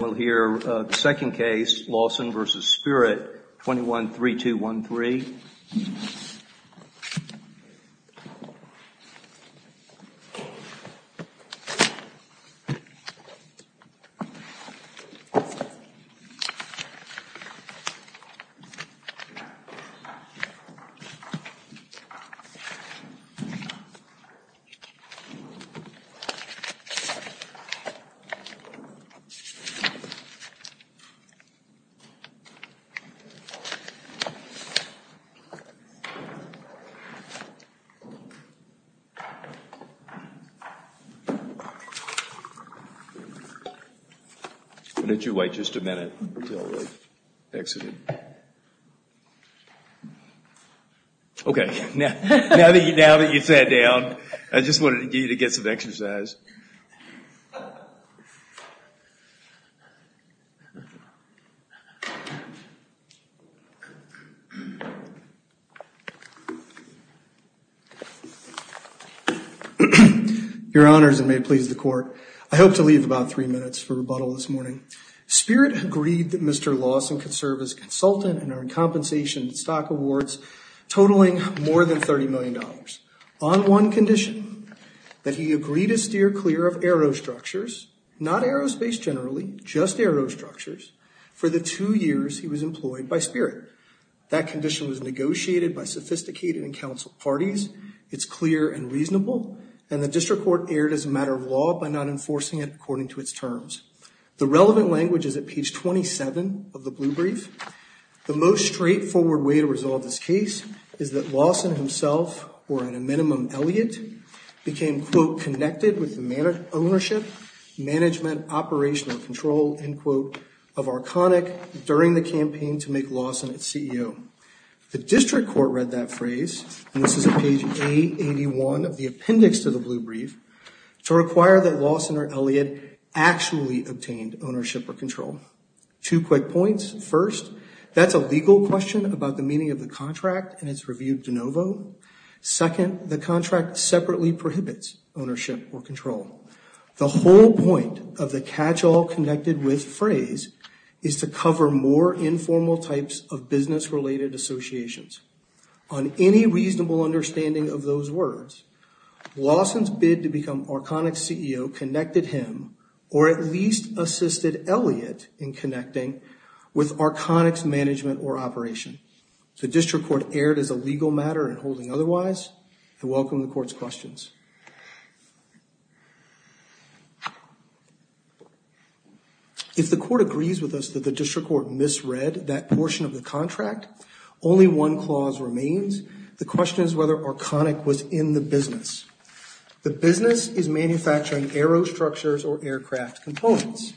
We'll hear the second case, Lawson v. Spirit 21-3213. Why don't you wait just a minute until I exit. Okay, now that you've sat down, I just wanted to leave about three minutes for rebuttal this morning. Spirit agreed that Mr. Lawson could serve as consultant and earn compensation and stock awards totaling more than $30 million on one condition, that he agree to steer clear of aerostructures, not aerospace generally, just aerostructures, for the two years he was employed by Spirit. That condition was negotiated by sophisticated and counseled parties. It's clear and reasonable, and the district court erred as a matter of law by not enforcing it according to its terms. The relevant language is at page 27 of the blue brief. The most straightforward way to resolve this case is that Lawson himself, or at a minimum, Elliott, became, quote, connected with the ownership, management, operational control, end quote, of Arconic during the campaign to make Lawson its CEO. The district court read that phrase, and this is at page 881 of the appendix to the blue brief, to require that Lawson or Elliott actually obtained ownership or control. Two quick points. First, that's a legal question about the meaning of the contract and it's reviewed de novo. Second, the contract separately prohibits ownership or control. The whole point of the catch-all connected with phrase is to cover more informal types of business-related associations. On any reasonable understanding of those words, Lawson's bid to become Arconic's CEO connected him, or at least assisted Elliott in connecting with Arconic's management or operation. The district court erred as a legal matter in holding otherwise. I welcome the court's questions. If the court agrees with us that the district court misread that portion of the contract, only one clause remains. The question is whether Arconic was in the business. The business is manufacturing aero structures or aircraft components.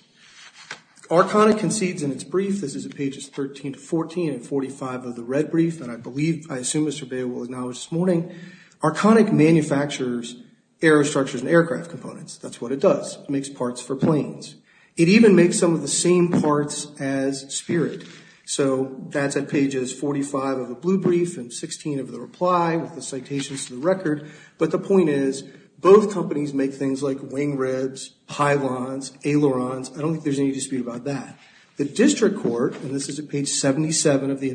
Arconic concedes in its brief, this is at pages 13 to 14 and 45 of the red brief, that I believe, I assume Mr. Bale will acknowledge this morning. Arconic manufactures aero structures and aircraft components. That's what it does. It makes parts for planes. It even makes some of the same parts as Spirit. So that's at pages 45 of the blue brief and 16 of the reply with the citations to the record. But the point is, both companies make things like wing ribs, pylons, ailerons. I don't think there's any dispute about that. The district court, and this is at page 77 of the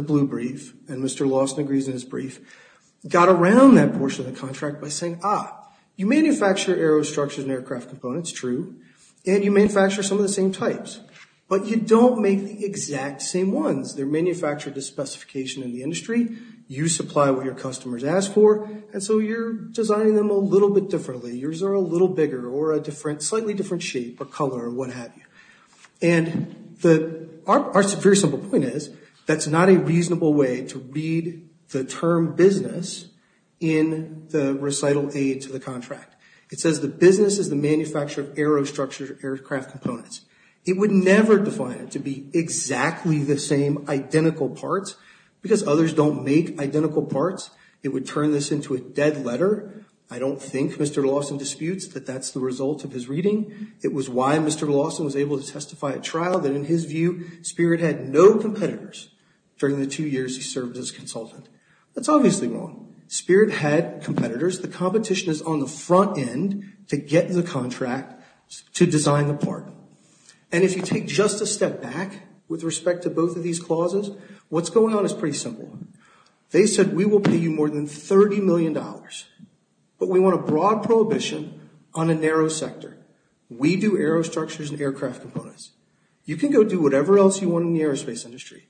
blue brief, and Mr. Lawson agrees in his brief, got around that portion of the contract by saying, ah, you manufacture aero structures and aircraft components, true, and you manufacture some of the same types. But you don't make the exact same ones. They're manufactured to specification in the industry. You supply what your customers ask for, and so you're designing them a little bit differently. Yours are a little bigger or a different, slightly different shape or color or what have you. And the, our very simple point is, that's not a reasonable way to read the term business in the recital aid to the contract. It says the business is the manufacturer of aero structures or aircraft components. It would never define it to be exactly the same identical parts because others don't make identical parts. It would turn this into a dead letter. I don't think Mr. Lawson disputes that that's the result of his reading. It was why Mr. Lawson was able to testify at trial, that in his view, Spirit had no competitors during the two years he served as consultant. That's obviously wrong. Spirit had competitors. The competition is on the front end to get the contract to design the part. And if you take just a step back with respect to both of these clauses, what's going on is pretty simple. They said we will pay you more than 30 million dollars, but we want a broad prohibition on a narrow sector. We do aero structures and aircraft components. You can go do whatever else you want in the aerospace industry.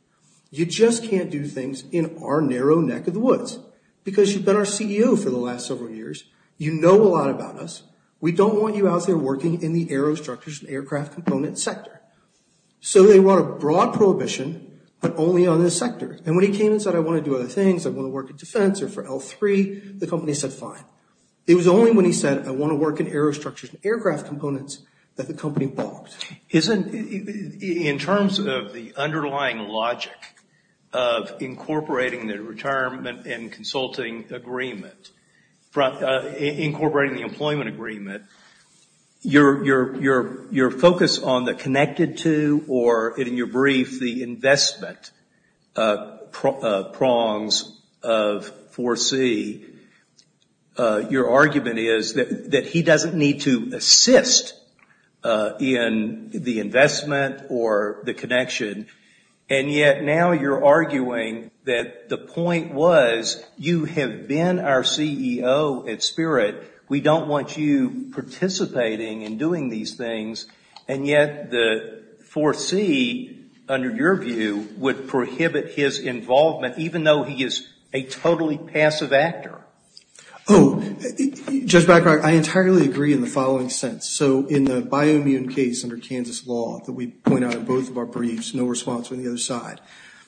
You just can't do things in our narrow neck of the woods because you've been our CEO for the last several years. You know a lot about us. We don't want you out there working in the aero structures and aircraft component sector. So they want a broad prohibition, but only on this sector. And when he came and said I want to do other things, I want to work in defense or for L3, the company said fine. It was only when he said I want to work in aero structures and aircraft components that the company balked. Isn't, in terms of the underlying logic of incorporating the retirement and consulting agreement, incorporating the employment agreement, your focus on the connected to or in your brief, the investment prongs of 4C, your argument is that he doesn't need to assist in the investment or the connection, and yet now you're arguing that the point was you have been our CEO at Spirit. We don't want you participating in doing these things, and yet the 4C, under your view, would prohibit his involvement even though he is a totally passive actor. Oh, Judge Blackrock, I entirely agree in the following sense. So in the bioimmune case under Kansas law that we point out in both of our briefs, no response from the other side,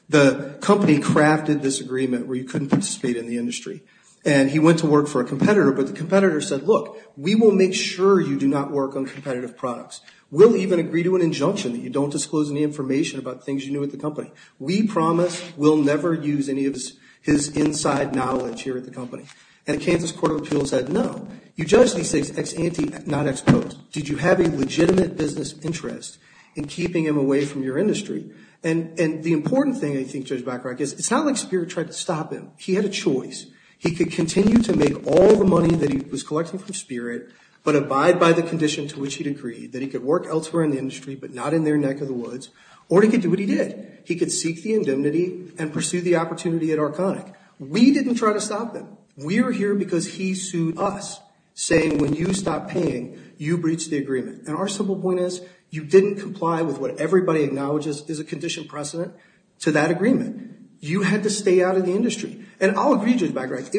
the company crafted this agreement where you couldn't participate in the industry. And he went to work for a competitor, but the competitor said look, we will make sure you do not work on competitive products. We'll even agree to an injunction that you don't disclose any information about things you knew at the company. We promise we'll never use any of his inside knowledge here at the company. And Kansas Court of Appeals said no. You judged these things ex ante, not ex pote. Did you have a legitimate business interest in keeping him away from your industry? And the important thing, I think, Judge Blackrock, is it's not like Spirit tried to stop him. He had a choice. He could continue to make all the money that he was collecting from Spirit, but abide by the condition to which he'd agreed, that he could work elsewhere in the industry but not in their neck of the woods, or he could do what he did. He could seek the indemnity and pursue the opportunity at Arconic. We didn't try to stop him. We were here because he sued us, saying when you stopped paying, you breached the agreement. And our simple point is you didn't comply with what everybody acknowledges is a condition precedent to that background. It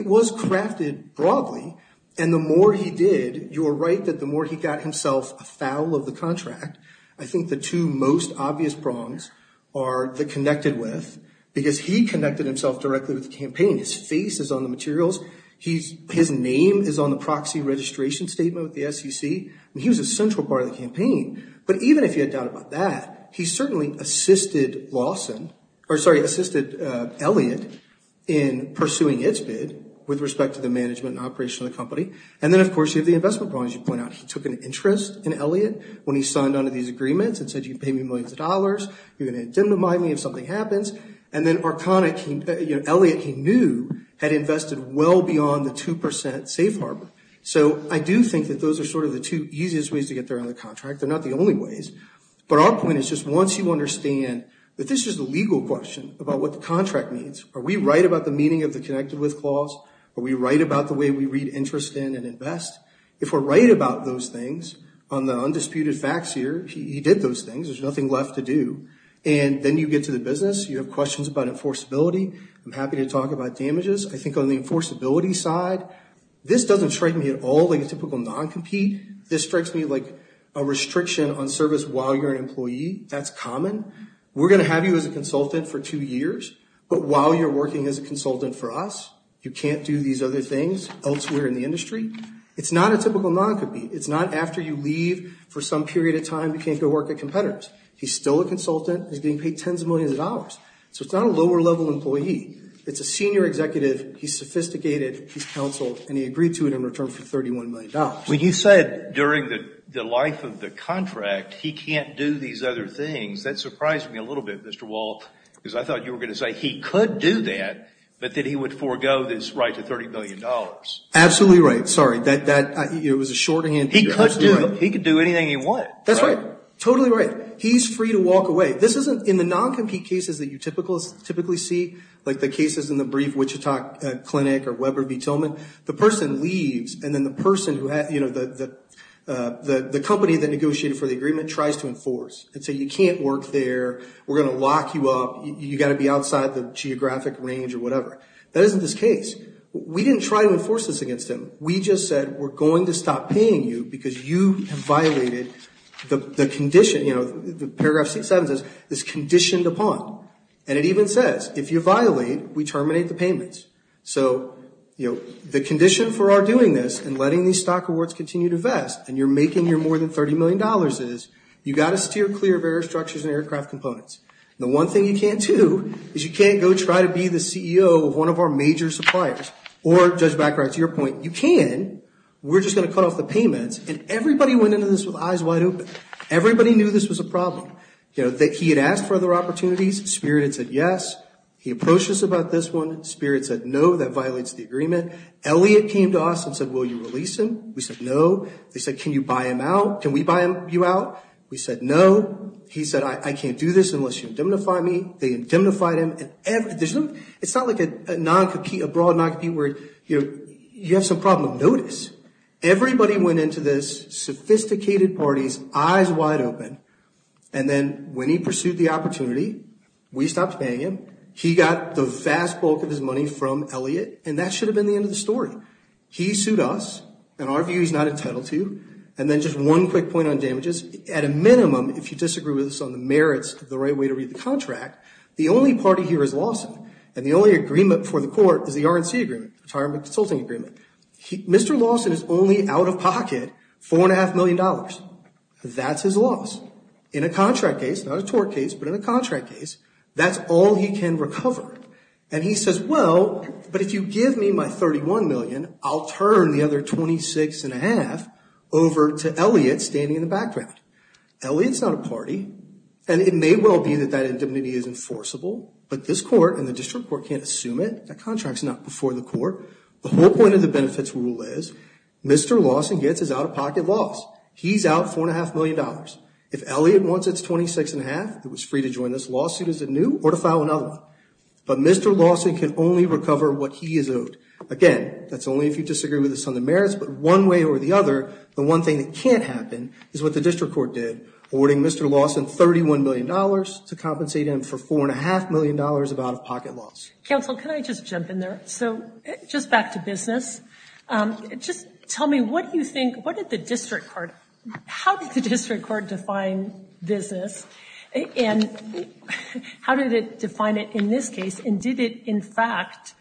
was crafted broadly. And the more he did, you're right that the more he got himself afoul of the contract, I think the two most obvious prongs are the connected with, because he connected himself directly with the campaign. His face is on the materials. His name is on the proxy registration statement with the SEC. He was a central part of the campaign. But even if you had thought about that, he certainly assisted Lawson, or sorry, assisted Elliott in pursuing its bid with respect to the management and operation of the company. And then, of course, you have the investment problem, as you point out. He took an interest in Elliott when he signed on to these agreements and said you can pay me millions of dollars. You're going to indemnify me if something happens. And then Arconic, he, you know, Elliott, he knew had invested well beyond the 2% safe harbor. So I do think that those are sort of the two easiest ways to get there on the contract. They're not the only ways. But our point is just once you understand that this is the legal question about what the contract means. Are we right about the meaning of the connected with clause? Are we right about the way we read interest in and invest? If we're right about those things, on the undisputed facts here, he did those things. There's nothing left to do. And then you get to the business. You have questions about enforceability. I'm happy to talk about damages. I think on the enforceability side, this doesn't strike me at all like a restriction on service while you're an employee. That's common. We're going to have you as a consultant for two years. But while you're working as a consultant for us, you can't do these other things elsewhere in the industry. It's not a typical non-compete. It's not after you leave for some period of time, you can't go work at competitors. He's still a consultant. He's getting paid tens of millions of dollars. So it's not a lower level employee. It's a senior executive. He's sophisticated. He's counseled. And he agreed to it in return for $31 million. When you said during the life of the contract, he can't do these other things, that surprised me a little bit, Mr. Walt, because I thought you were going to say he could do that, but that he would forego this right to $30 million. Absolutely right. Sorry. It was a shortening. He could do anything he wanted. That's right. Totally right. He's free to walk away. This isn't, in the non-compete cases that you typically see, like the cases in the brief of Wichita Clinic or Weber B. Tillman, the person leaves and then the person who has, you know, the company that negotiated for the agreement tries to enforce and say you can't work there. We're going to lock you up. You've got to be outside the geographic range or whatever. That isn't this case. We didn't try to enforce this against him. We just said we're going to stop paying you because you have violated the condition, you know, the paragraph 67 says, is conditioned upon. And it even says, if you violate, we terminate the payment. So, you know, the condition for our doing this and letting these stock awards continue to vest and you're making your more than $30 million is you've got to steer clear of air structures and aircraft components. The one thing you can't do is you can't go try to be the CEO of one of our major suppliers or, Judge Baccarat, to your point, you can. We're just going to cut off the payments. And everybody went into this with eyes wide open. Everybody knew this was a problem. You know, he had asked for other opportunities. Spirit had said yes. He approached us about this one. Spirit said no, that violates the agreement. Elliot came to us and said, will you release him? We said no. They said, can you buy him out? Can we buy you out? We said no. He said, I can't do this unless you indemnify me. They indemnified him. It's not like a broad non-compete where, you know, you have some notice. Everybody went into this, sophisticated parties, eyes wide open, and then when he pursued the opportunity, we stopped paying him. He got the vast bulk of his money from Elliot, and that should have been the end of the story. He sued us, and our view is not entitled to, and then just one quick point on damages. At a minimum, if you disagree with us on the merits of the right way to read the contract, the only party here is the R&C Agreement, Retirement Consulting Agreement. Mr. Lawson is only out of pocket $4.5 million. That's his loss. In a contract case, not a tort case, but in a contract case, that's all he can recover. And he says, well, but if you give me my $31 million, I'll turn the other $26.5 over to Elliot standing in the background. Elliot's not a party, and it may well be that that indemnity is enforceable, but this court and the The whole point of the benefits rule is, Mr. Lawson gets his out-of-pocket loss. He's out $4.5 million. If Elliot wants his $26.5, he's free to join this lawsuit as a new or to file another one. But Mr. Lawson can only recover what he is owed. Again, that's only if you disagree with us on the merits, but one way or the other, the one thing that can't happen is what the district court did, awarding Mr. Lawson $31 million to compensate him for $4.5 million of out-of-pocket loss. Counsel, can I just jump in there? So, just back to business. Just tell me, what do you think, what did the district court, how did the district court define business, and how did it define it in this case, and did it, in fact,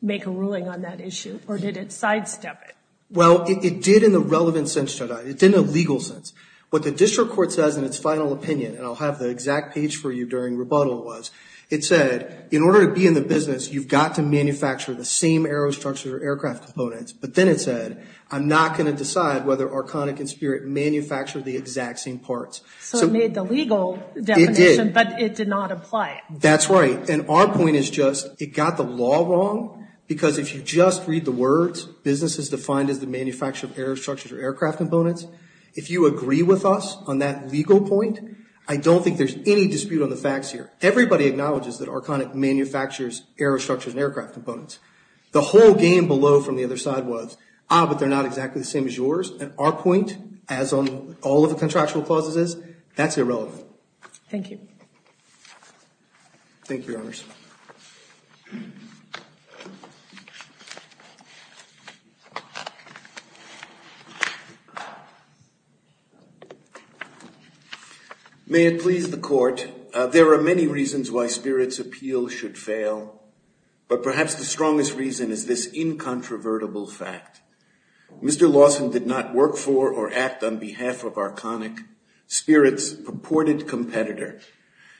make a ruling on that issue, or did it sidestep it? Well, it did in a relevant sense to that. It did in a legal sense. What the district court says in its final opinion, and I'll have the exact page for you during rebuttal was, it said, in order to be in the business, you've got to manufacture the same aero structures or aircraft components. But then it said, I'm not going to decide whether Arconic and Spirit manufacture the exact same parts. So it made the legal definition, but it did not apply. That's right. And our point is just, it got the law wrong, because if you just read the words, business is defined as the manufacture of aero components. The whole game below from the other side was, ah, but they're not exactly the same as yours. And our point, as on all of the contractual clauses is, that's irrelevant. Thank you. Thank you, Your Honors. May it please the court, there are many reasons why Spirit's appeal should fail, but perhaps the strongest reason is this incontrovertible fact. Mr. Lawson did not work for or act on behalf of Arconic, Spirit's purported competitor.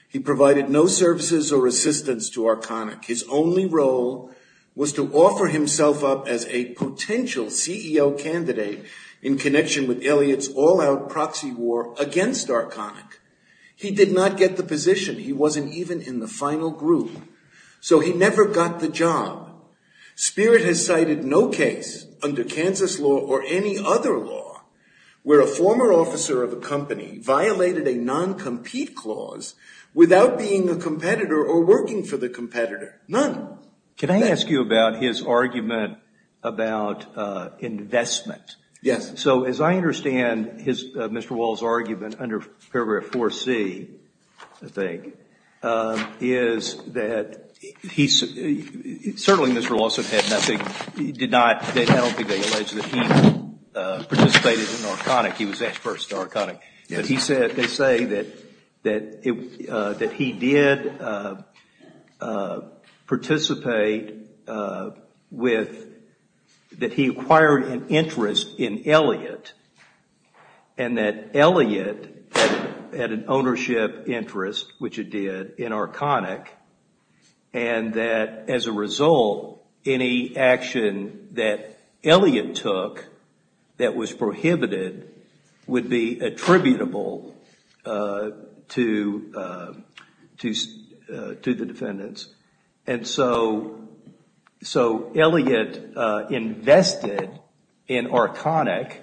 He provided no services or assistance to Arconic. His only role was to offer himself up as a potential CEO candidate in connection with Elliott's all-out proxy war against Arconic. He did not get the position. He wasn't even in the final group. So he never got the job. Spirit has cited no case under Kansas law or any other law where a former officer of a company violated a non-compete clause without being a competitor or working for the competitor. None. Can I ask you about his argument about investment? Yes. So as I understand Mr. Wall's argument under paragraph 4C, I think, is that he, certainly Mr. Lawson had nothing, did not, I don't think they allege that he participated in Arconic. They say that he did participate with, that he acquired an interest in Elliott and that Elliott had an ownership interest, which it did, in Arconic. And that as a result, any action that Elliott took that was prohibited would be attributable to the defendants. And so Elliott invested in Arconic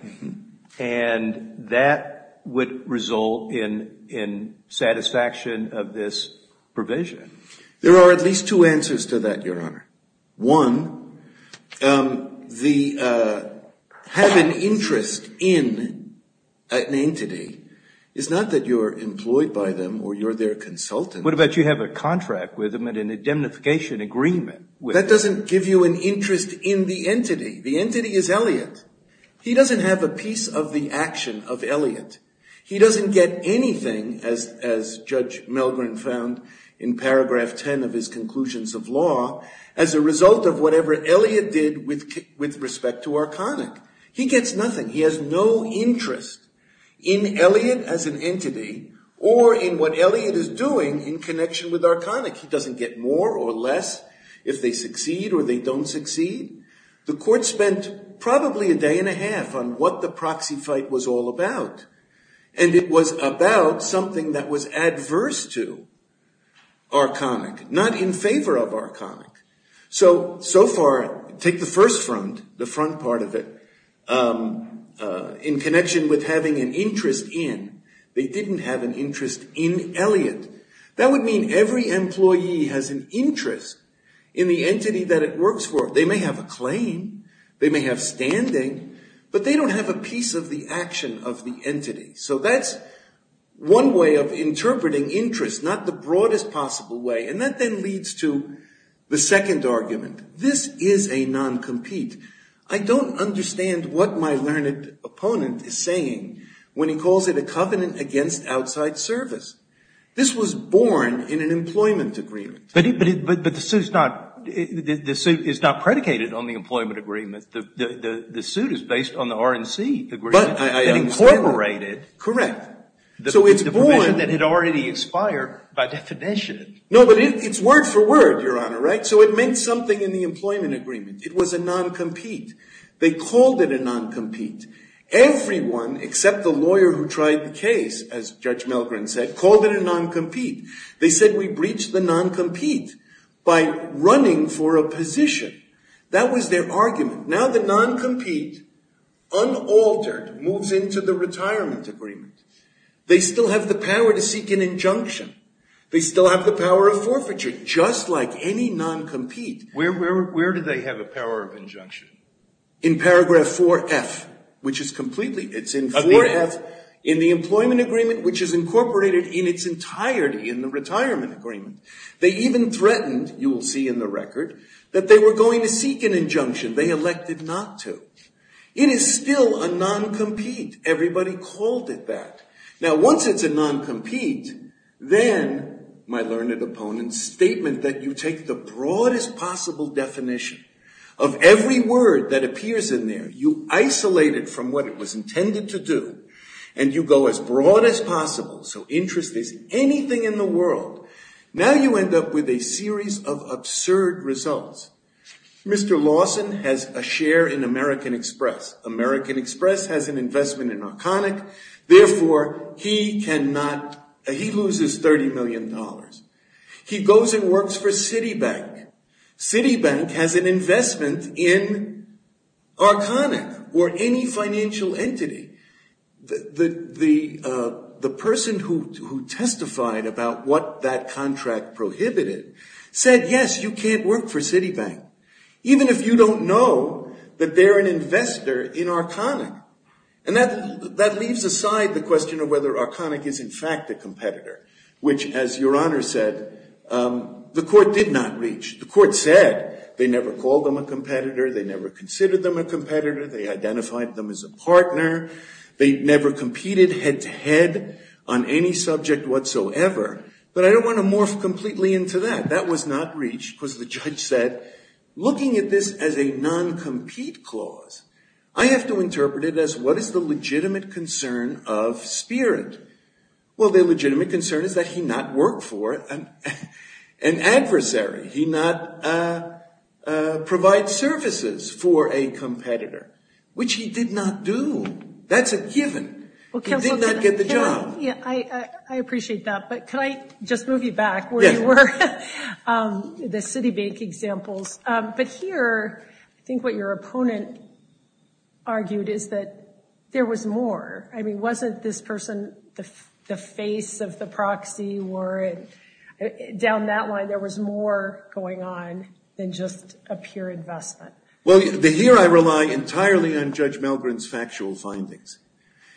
and that would result in satisfaction of this provision. There are at least two answers to that, Your Honor. One, the having interest in an entity is not that you're employed by them or you're their consultant. What about you have a contract with them and an indemnification agreement? That doesn't give you an interest in the entity. The entity is Elliott. He doesn't have a piece of the action of Elliott. He doesn't get anything, as Judge Milgrim found in paragraph 10 of his conclusions of law, as a result of whatever Elliott did with respect to Arconic. He gets nothing. He has no interest in Elliott as an entity or in what Elliott is doing in connection with Arconic. He doesn't get more or less if they succeed or they don't succeed. The court spent probably a day and a half on what the proxy fight was all about. And it was about something that was adverse to Arconic, not in favor of Arconic. So, so far, take the first front, the front part of it, in connection with having an interest in. They didn't have an interest in Elliott. That would mean every employee has an interest in the entity that it works for. They may have a claim. They may have standing. But they don't have a piece of the action of the entity. So that's one way of interpreting interest, not the broadest possible way. And that then leads to the second argument. This is a non-compete. I don't understand what my learned opponent is saying when he calls it a covenant against outside service. This was born in an employment agreement. But the suit is not predicated on the employment agreement. The suit is based on the R&C agreement. But I understand. Incorporated. Correct. So it's born. The provision that had already expired by definition. No, but it's word for word, Your Honor, right? So it meant something in the employment agreement. It was a non-compete. They called it a non-compete. Everyone except the lawyer who tried the case, as Judge Milgren said, called it a non-compete. They said we breached the non-compete by running for a position. That was their argument. Now the non-compete, unaltered, moves into the retirement agreement. They still have the power to seek an injunction. They still have the power of forfeiture, just like any non-compete. Where do they have the power of injunction? In paragraph 4F, which is completely, it's in 4F in the employment agreement, which is incorporated in its entirety in the retirement agreement. They even threatened, you will see in the record, that they were going to seek an injunction. They elected not to. It is still a non-compete. Everybody called it that. Now once it's a non-compete, then, my learned opponent, statement that you take the broadest possible definition of every word that appears in there, you isolate it from what it was intended to do, and you go as broad as possible. So interest is anything in the world. Now you end up with a series of absurd results. Mr. Lawson has a share in American Express. American Express has an investment in Arconic. Therefore, he loses $30 million. He goes and works for Citibank. Citibank has an investment in Arconic or any financial entity. The person who testified about what that contract prohibited said, yes, you can't work for Citibank, even if you don't know that they're an investor in Arconic. And that leaves aside the question of whether Arconic is in fact a competitor, which, as Your Honor said, the court did not reach. The court said they never called them a competitor. They never considered them a competitor. They identified them as a partner. They never competed head-to-head on any subject whatsoever. But I don't want to morph completely into that. That was not reached because the judge said, looking at this as a non-compete clause, I have to interpret it as what is the legitimate concern of Spirit? Well, the legitimate concern is that he not work for an adversary. He not provide services for a competitor, which he did not do. That's a given. He did not get the job. I appreciate that. But can I just move you back where you were? The Citibank examples. But here, I think what your opponent argued is that there was more. I mean, wasn't this person the face of the proxy? Down that line, there was more going on than just a pure investment. Well, here I rely entirely on Judge Milgren's factual findings.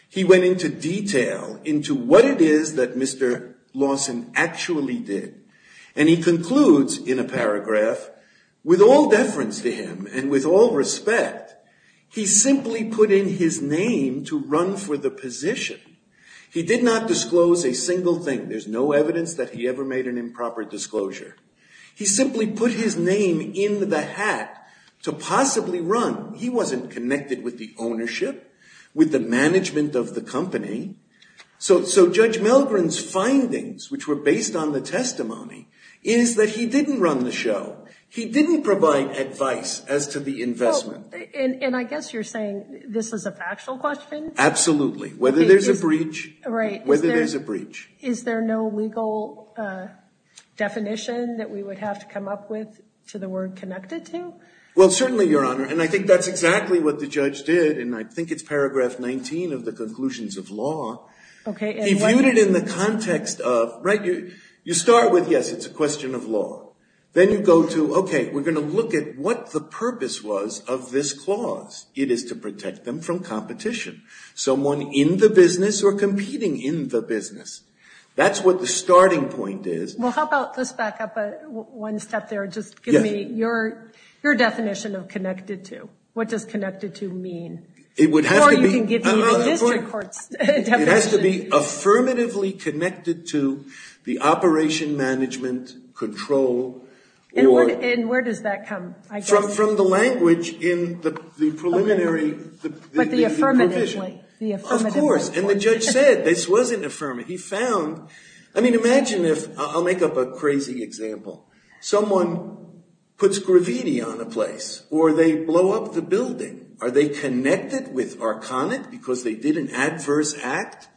He went into detail into what it is that Mr. Lawson actually did. And he concludes in a paragraph, With all deference to him and with all respect, he simply put in his name to run for the position. He did not disclose a single thing. There's no evidence that he ever made an improper disclosure. He simply put his name in the hat to possibly run. He wasn't connected with the ownership, with the management of the company. So Judge Milgren's findings, which were based on the testimony, is that he didn't run the show. He didn't provide advice as to the investment. And I guess you're saying this is a factual question? Absolutely. Whether there's a breach. Whether there's a breach. Is there no legal definition that we would have to come up with to the word connected to? Well, certainly, Your Honor. And I think that's exactly what the judge did. And I think it's paragraph 19 of the conclusions of law. Okay. He viewed it in the context of, right, you start with, yes, it's a question of law. Then you go to, okay, we're going to look at what the purpose was of this clause. It is to protect them from competition. Someone in the business or competing in the business. That's what the starting point is. Well, how about let's back up one step there. Just give me your definition of connected to. What does connected to mean? Or you can give me the district court's definition. It has to be affirmatively connected to the operation management control. And where does that come? From the language in the preliminary. But the affirmatively. Of course. And the judge said this wasn't affirmative. He found, I mean, imagine if, I'll make up a crazy example. Someone puts graffiti on a place. Or they blow up the building. Are they connected with Arconic because they did an adverse act?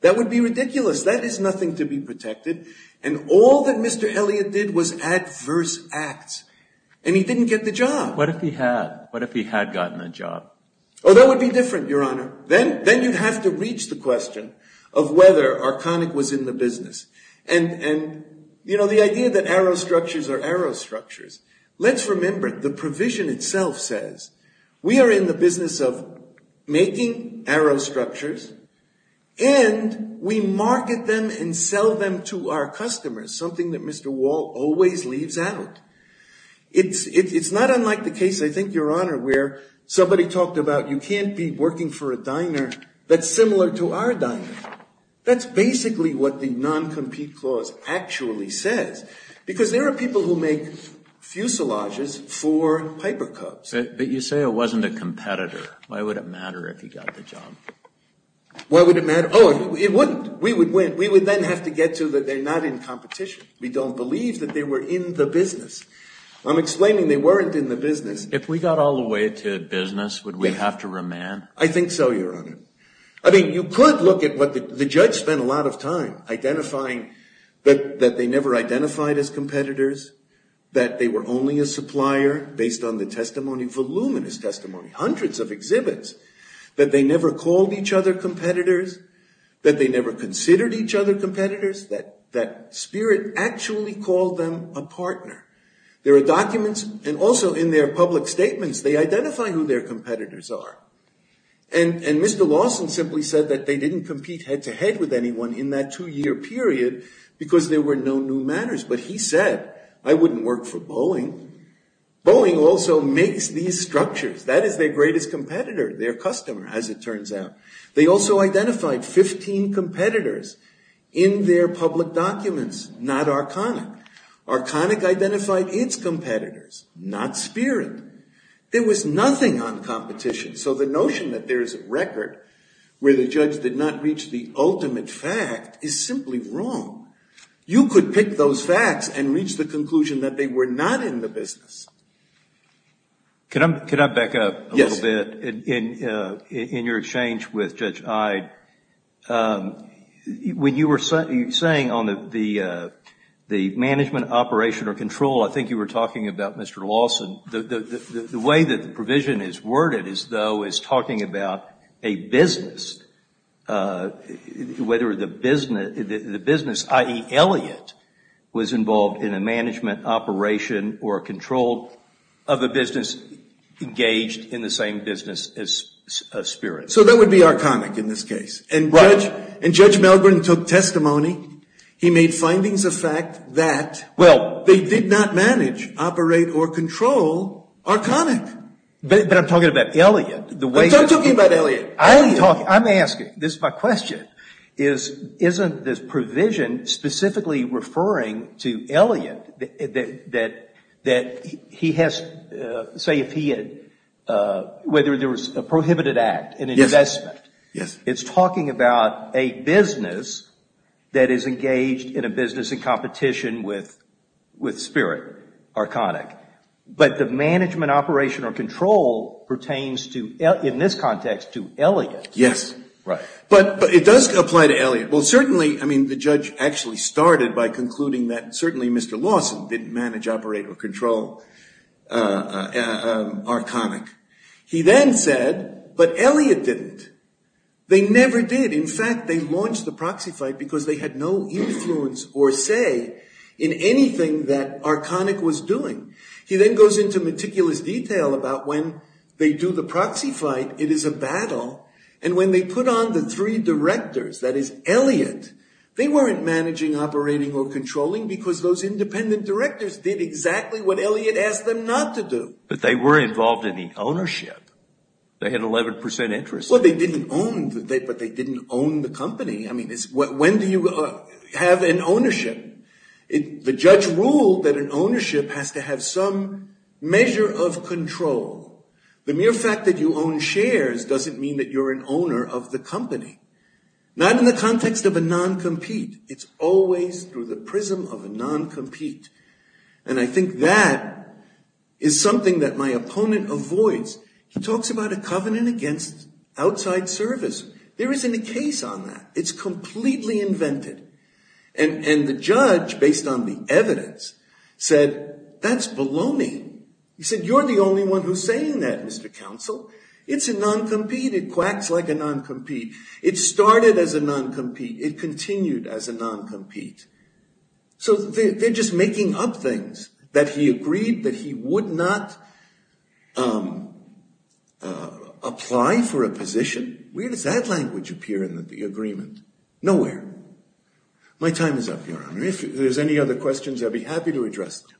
That would be ridiculous. That is nothing to be protected. And all that Mr. Elliott did was adverse acts. And he didn't get the job. What if he had? What if he had gotten the job? Oh, that would be different, Your Honor. Then you'd have to reach the question of whether Arconic was in the business. And, you know, the idea that arrow structures are arrow structures. Let's remember, the provision itself says, we are in the business of making arrow structures. And we market them and sell them to our customers. Something that Mr. Wall always leaves out. It's not unlike the case, I think, Your Honor, where somebody talked about you can't be working for a diner that's similar to our diner. That's basically what the non-compete clause actually says. Because there are people who make fuselages for Piper Cubs. But you say it wasn't a competitor. Why would it matter if he got the job? Why would it matter? Oh, it wouldn't. We would win. We would then have to get to that they're not in competition. We don't believe that they were in the business. I'm explaining they weren't in the business. If we got all the way to business, would we have to remand? I think so, Your Honor. I mean, you could look at what the judge spent a lot of time identifying, that they never identified as competitors, that they were only a supplier based on the testimony, voluminous testimony, hundreds of exhibits, that they never called each other competitors, that they never considered each other competitors, that Spirit actually called them a partner. There are documents, and also in their public statements, they identify who their competitors are. And Mr. Lawson simply said that they didn't compete head-to-head with anyone in that two-year period because there were no new matters. But he said, I wouldn't work for Boeing. Boeing also makes these structures. That is their greatest competitor, their customer, as it turns out. They also identified 15 competitors in their public documents, not Arconic. Arconic identified its competitors, not Spirit. There was nothing on competition. So the notion that there is a record where the judge did not reach the ultimate fact is simply wrong. You could pick those facts and reach the conclusion that they were not in the business. Can I back up a little bit? Yes. In your exchange with Judge Ide, when you were saying on the management, operation, or control, I think you were talking about Mr. Lawson, the way that the provision is worded as though it's talking about a business, whether the business, i.e., Elliot, was involved in a management, operation, or control of a business engaged in the same business as Spirit. So that would be Arconic in this case. And Judge Melgren took testimony. He made findings of fact that, well, they did not manage, operate, or control Arconic. But I'm talking about Elliot. What are you talking about, Elliot? Elliot. I'm asking. This is my question. Isn't this provision specifically referring to Elliot that he has, say if he had, whether there was a prohibited act, an investment. Yes. It's talking about a business that is engaged in a business in competition with Spirit, Arconic. But the management, operation, or control pertains to, in this context, to Elliot. Yes. Right. But it does apply to Elliot. Well, certainly, I mean, the judge actually started by concluding that certainly Mr. Lawson didn't manage, operate, or control Arconic. He then said, but Elliot didn't. They never did. In fact, they launched the proxy fight because they had no influence or say in anything that Arconic was doing. He then goes into meticulous detail about when they do the proxy fight, it is a battle. And when they put on the three directors, that is, Elliot, they weren't managing, operating, or controlling because those independent directors did exactly what Elliot asked them not to do. But they were involved in the ownership. They had 11% interest. Well, they didn't own, but they didn't own the company. I mean, when do you have an ownership? The judge ruled that an ownership has to have some measure of control. The mere fact that you own shares doesn't mean that you're an owner of the company, not in the context of a non-compete. It's always through the prism of a non-compete. And I think that is something that my opponent avoids. He talks about a covenant against outside service. There isn't a case on that. It's completely invented. And the judge, based on the evidence, said, that's baloney. He said, you're the only one who's saying that, Mr. Counsel. It's a non-compete. It quacks like a non-compete. It started as a non-compete. It continued as a non-compete. So they're just making up things that he agreed that he would not apply for a position. Where does that language appear in the agreement? Nowhere. My time is up, Your Honor. If there's any other questions, I'd be happy to address them.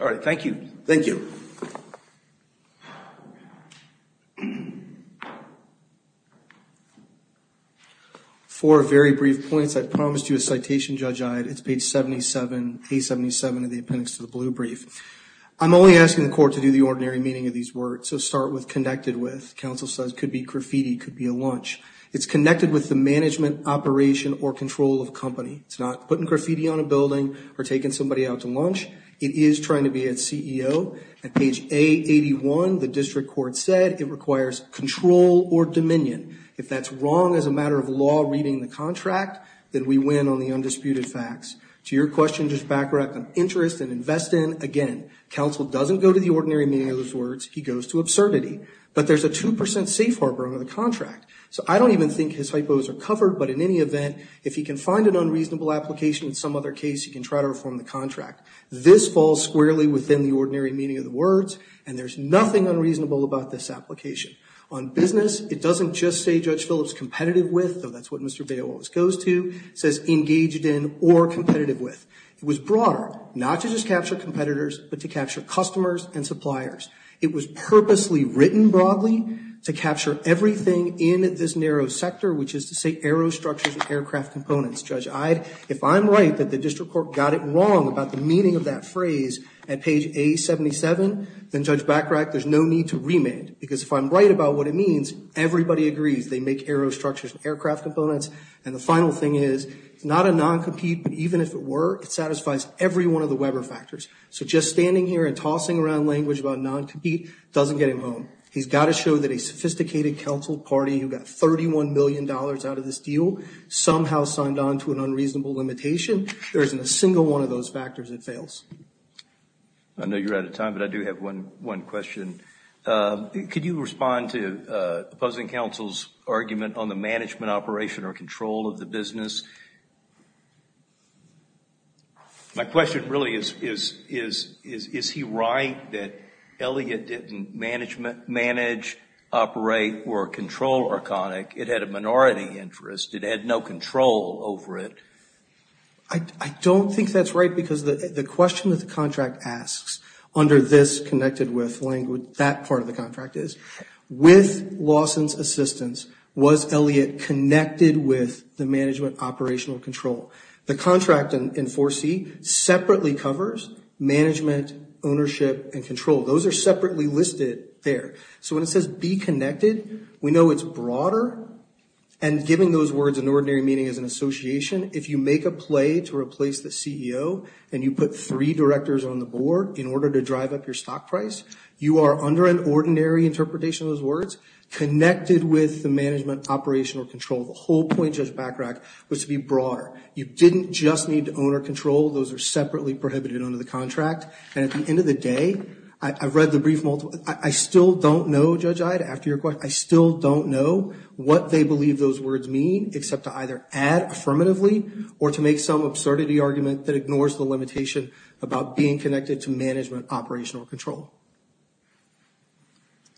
All right. Thank you. Thank you. Four very brief points. I promised you a citation, Judge Iod. It's page 77, A77 of the appendix to the blue brief. I'm only asking the court to do the ordinary meaning of these words. So start with connected with. Counsel says, could be graffiti, could be a lunch. It's connected with the management, operation, or control of a company. It's not putting graffiti on a building or taking somebody out to lunch. It is trying to be a CEO. At page A81, the district court said it requires control or dominion. If that's wrong as a matter of law reading the contract, then we win on the undisputed facts. To your question, just backtrack on interest and invest in. Again, counsel doesn't go to the ordinary meaning of those words. He goes to absurdity. But there's a 2% safe harbor under the contract. So I don't even think his hypos are covered, but in any event, if he can find an unreasonable application in some other case, he can try to reform the contract. This falls squarely within the ordinary meaning of the words, and there's nothing unreasonable about this application. On business, it doesn't just say Judge Phillips competitive with, though that's what Mr. Bales goes to, says engaged in or competitive with. It was broader, not to just capture competitors, but to capture customers and suppliers. It was purposely written broadly to capture everything in this narrow sector, which is to say aero structures and aircraft components. Judge Ide, if I'm right that the district court got it wrong about the meaning of that phrase at page A77, then, Judge Bachrach, there's no need to remand. Because if I'm right about what it means, everybody agrees. They make aero structures and aircraft components. And the final thing is, it's not a non-compete, but even if it were, it satisfies every one of the Weber factors. So just standing here and tossing around language about non-compete doesn't get him home. He's got to show that a sophisticated council party who got $31 million out of this deal somehow signed on to an unreasonable limitation. If there isn't a single one of those factors, it fails. I know you're out of time, but I do have one question. Could you respond to opposing counsel's argument on the management operation or control of the business? My question really is, is he right that Elliot didn't manage, operate, or control Arconic? It had a minority interest. It had no control over it. I don't think that's right because the question that the contract asks under this connected with language, that part of the contract is, with Lawson's assistance, was Elliot connected with the management operational control? The contract in 4C separately covers management, ownership, and control. Those are separately listed there. So when it says be connected, we know it's broader. And giving those words in ordinary meaning as an association, if you make a play to replace the CEO and you put three directors on the board in order to drive up your stock price, you are under an ordinary interpretation of those words, connected with the management operational control. The whole point, Judge Bachrach, was to be broader. You didn't just need owner control. Those are separately prohibited under the contract. And at the end of the day, I've read the brief multiple. I still don't know, Judge Iod, after your question, I still don't know what they believe those words mean except to either add affirmatively or to make some absurdity argument that ignores the limitation about being connected to management operational control.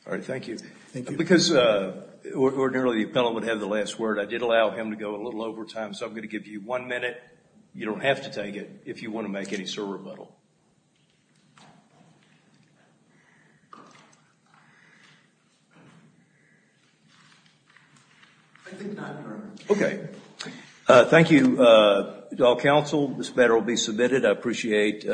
All right, thank you. Thank you. Because ordinarily the appellant would have the last word, I did allow him to go a little over time, so I'm going to give you one minute. You don't have to take it if you want to make any sort of rebuttal. Thank you. Thank you to all counsel. This matter will be submitted. I appreciate it.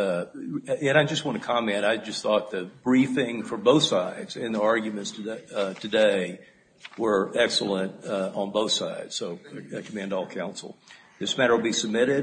And I just want to comment. I just thought the briefing for both sides and the arguments today were excellent on both sides. So I commend all counsel. This matter will be submitted.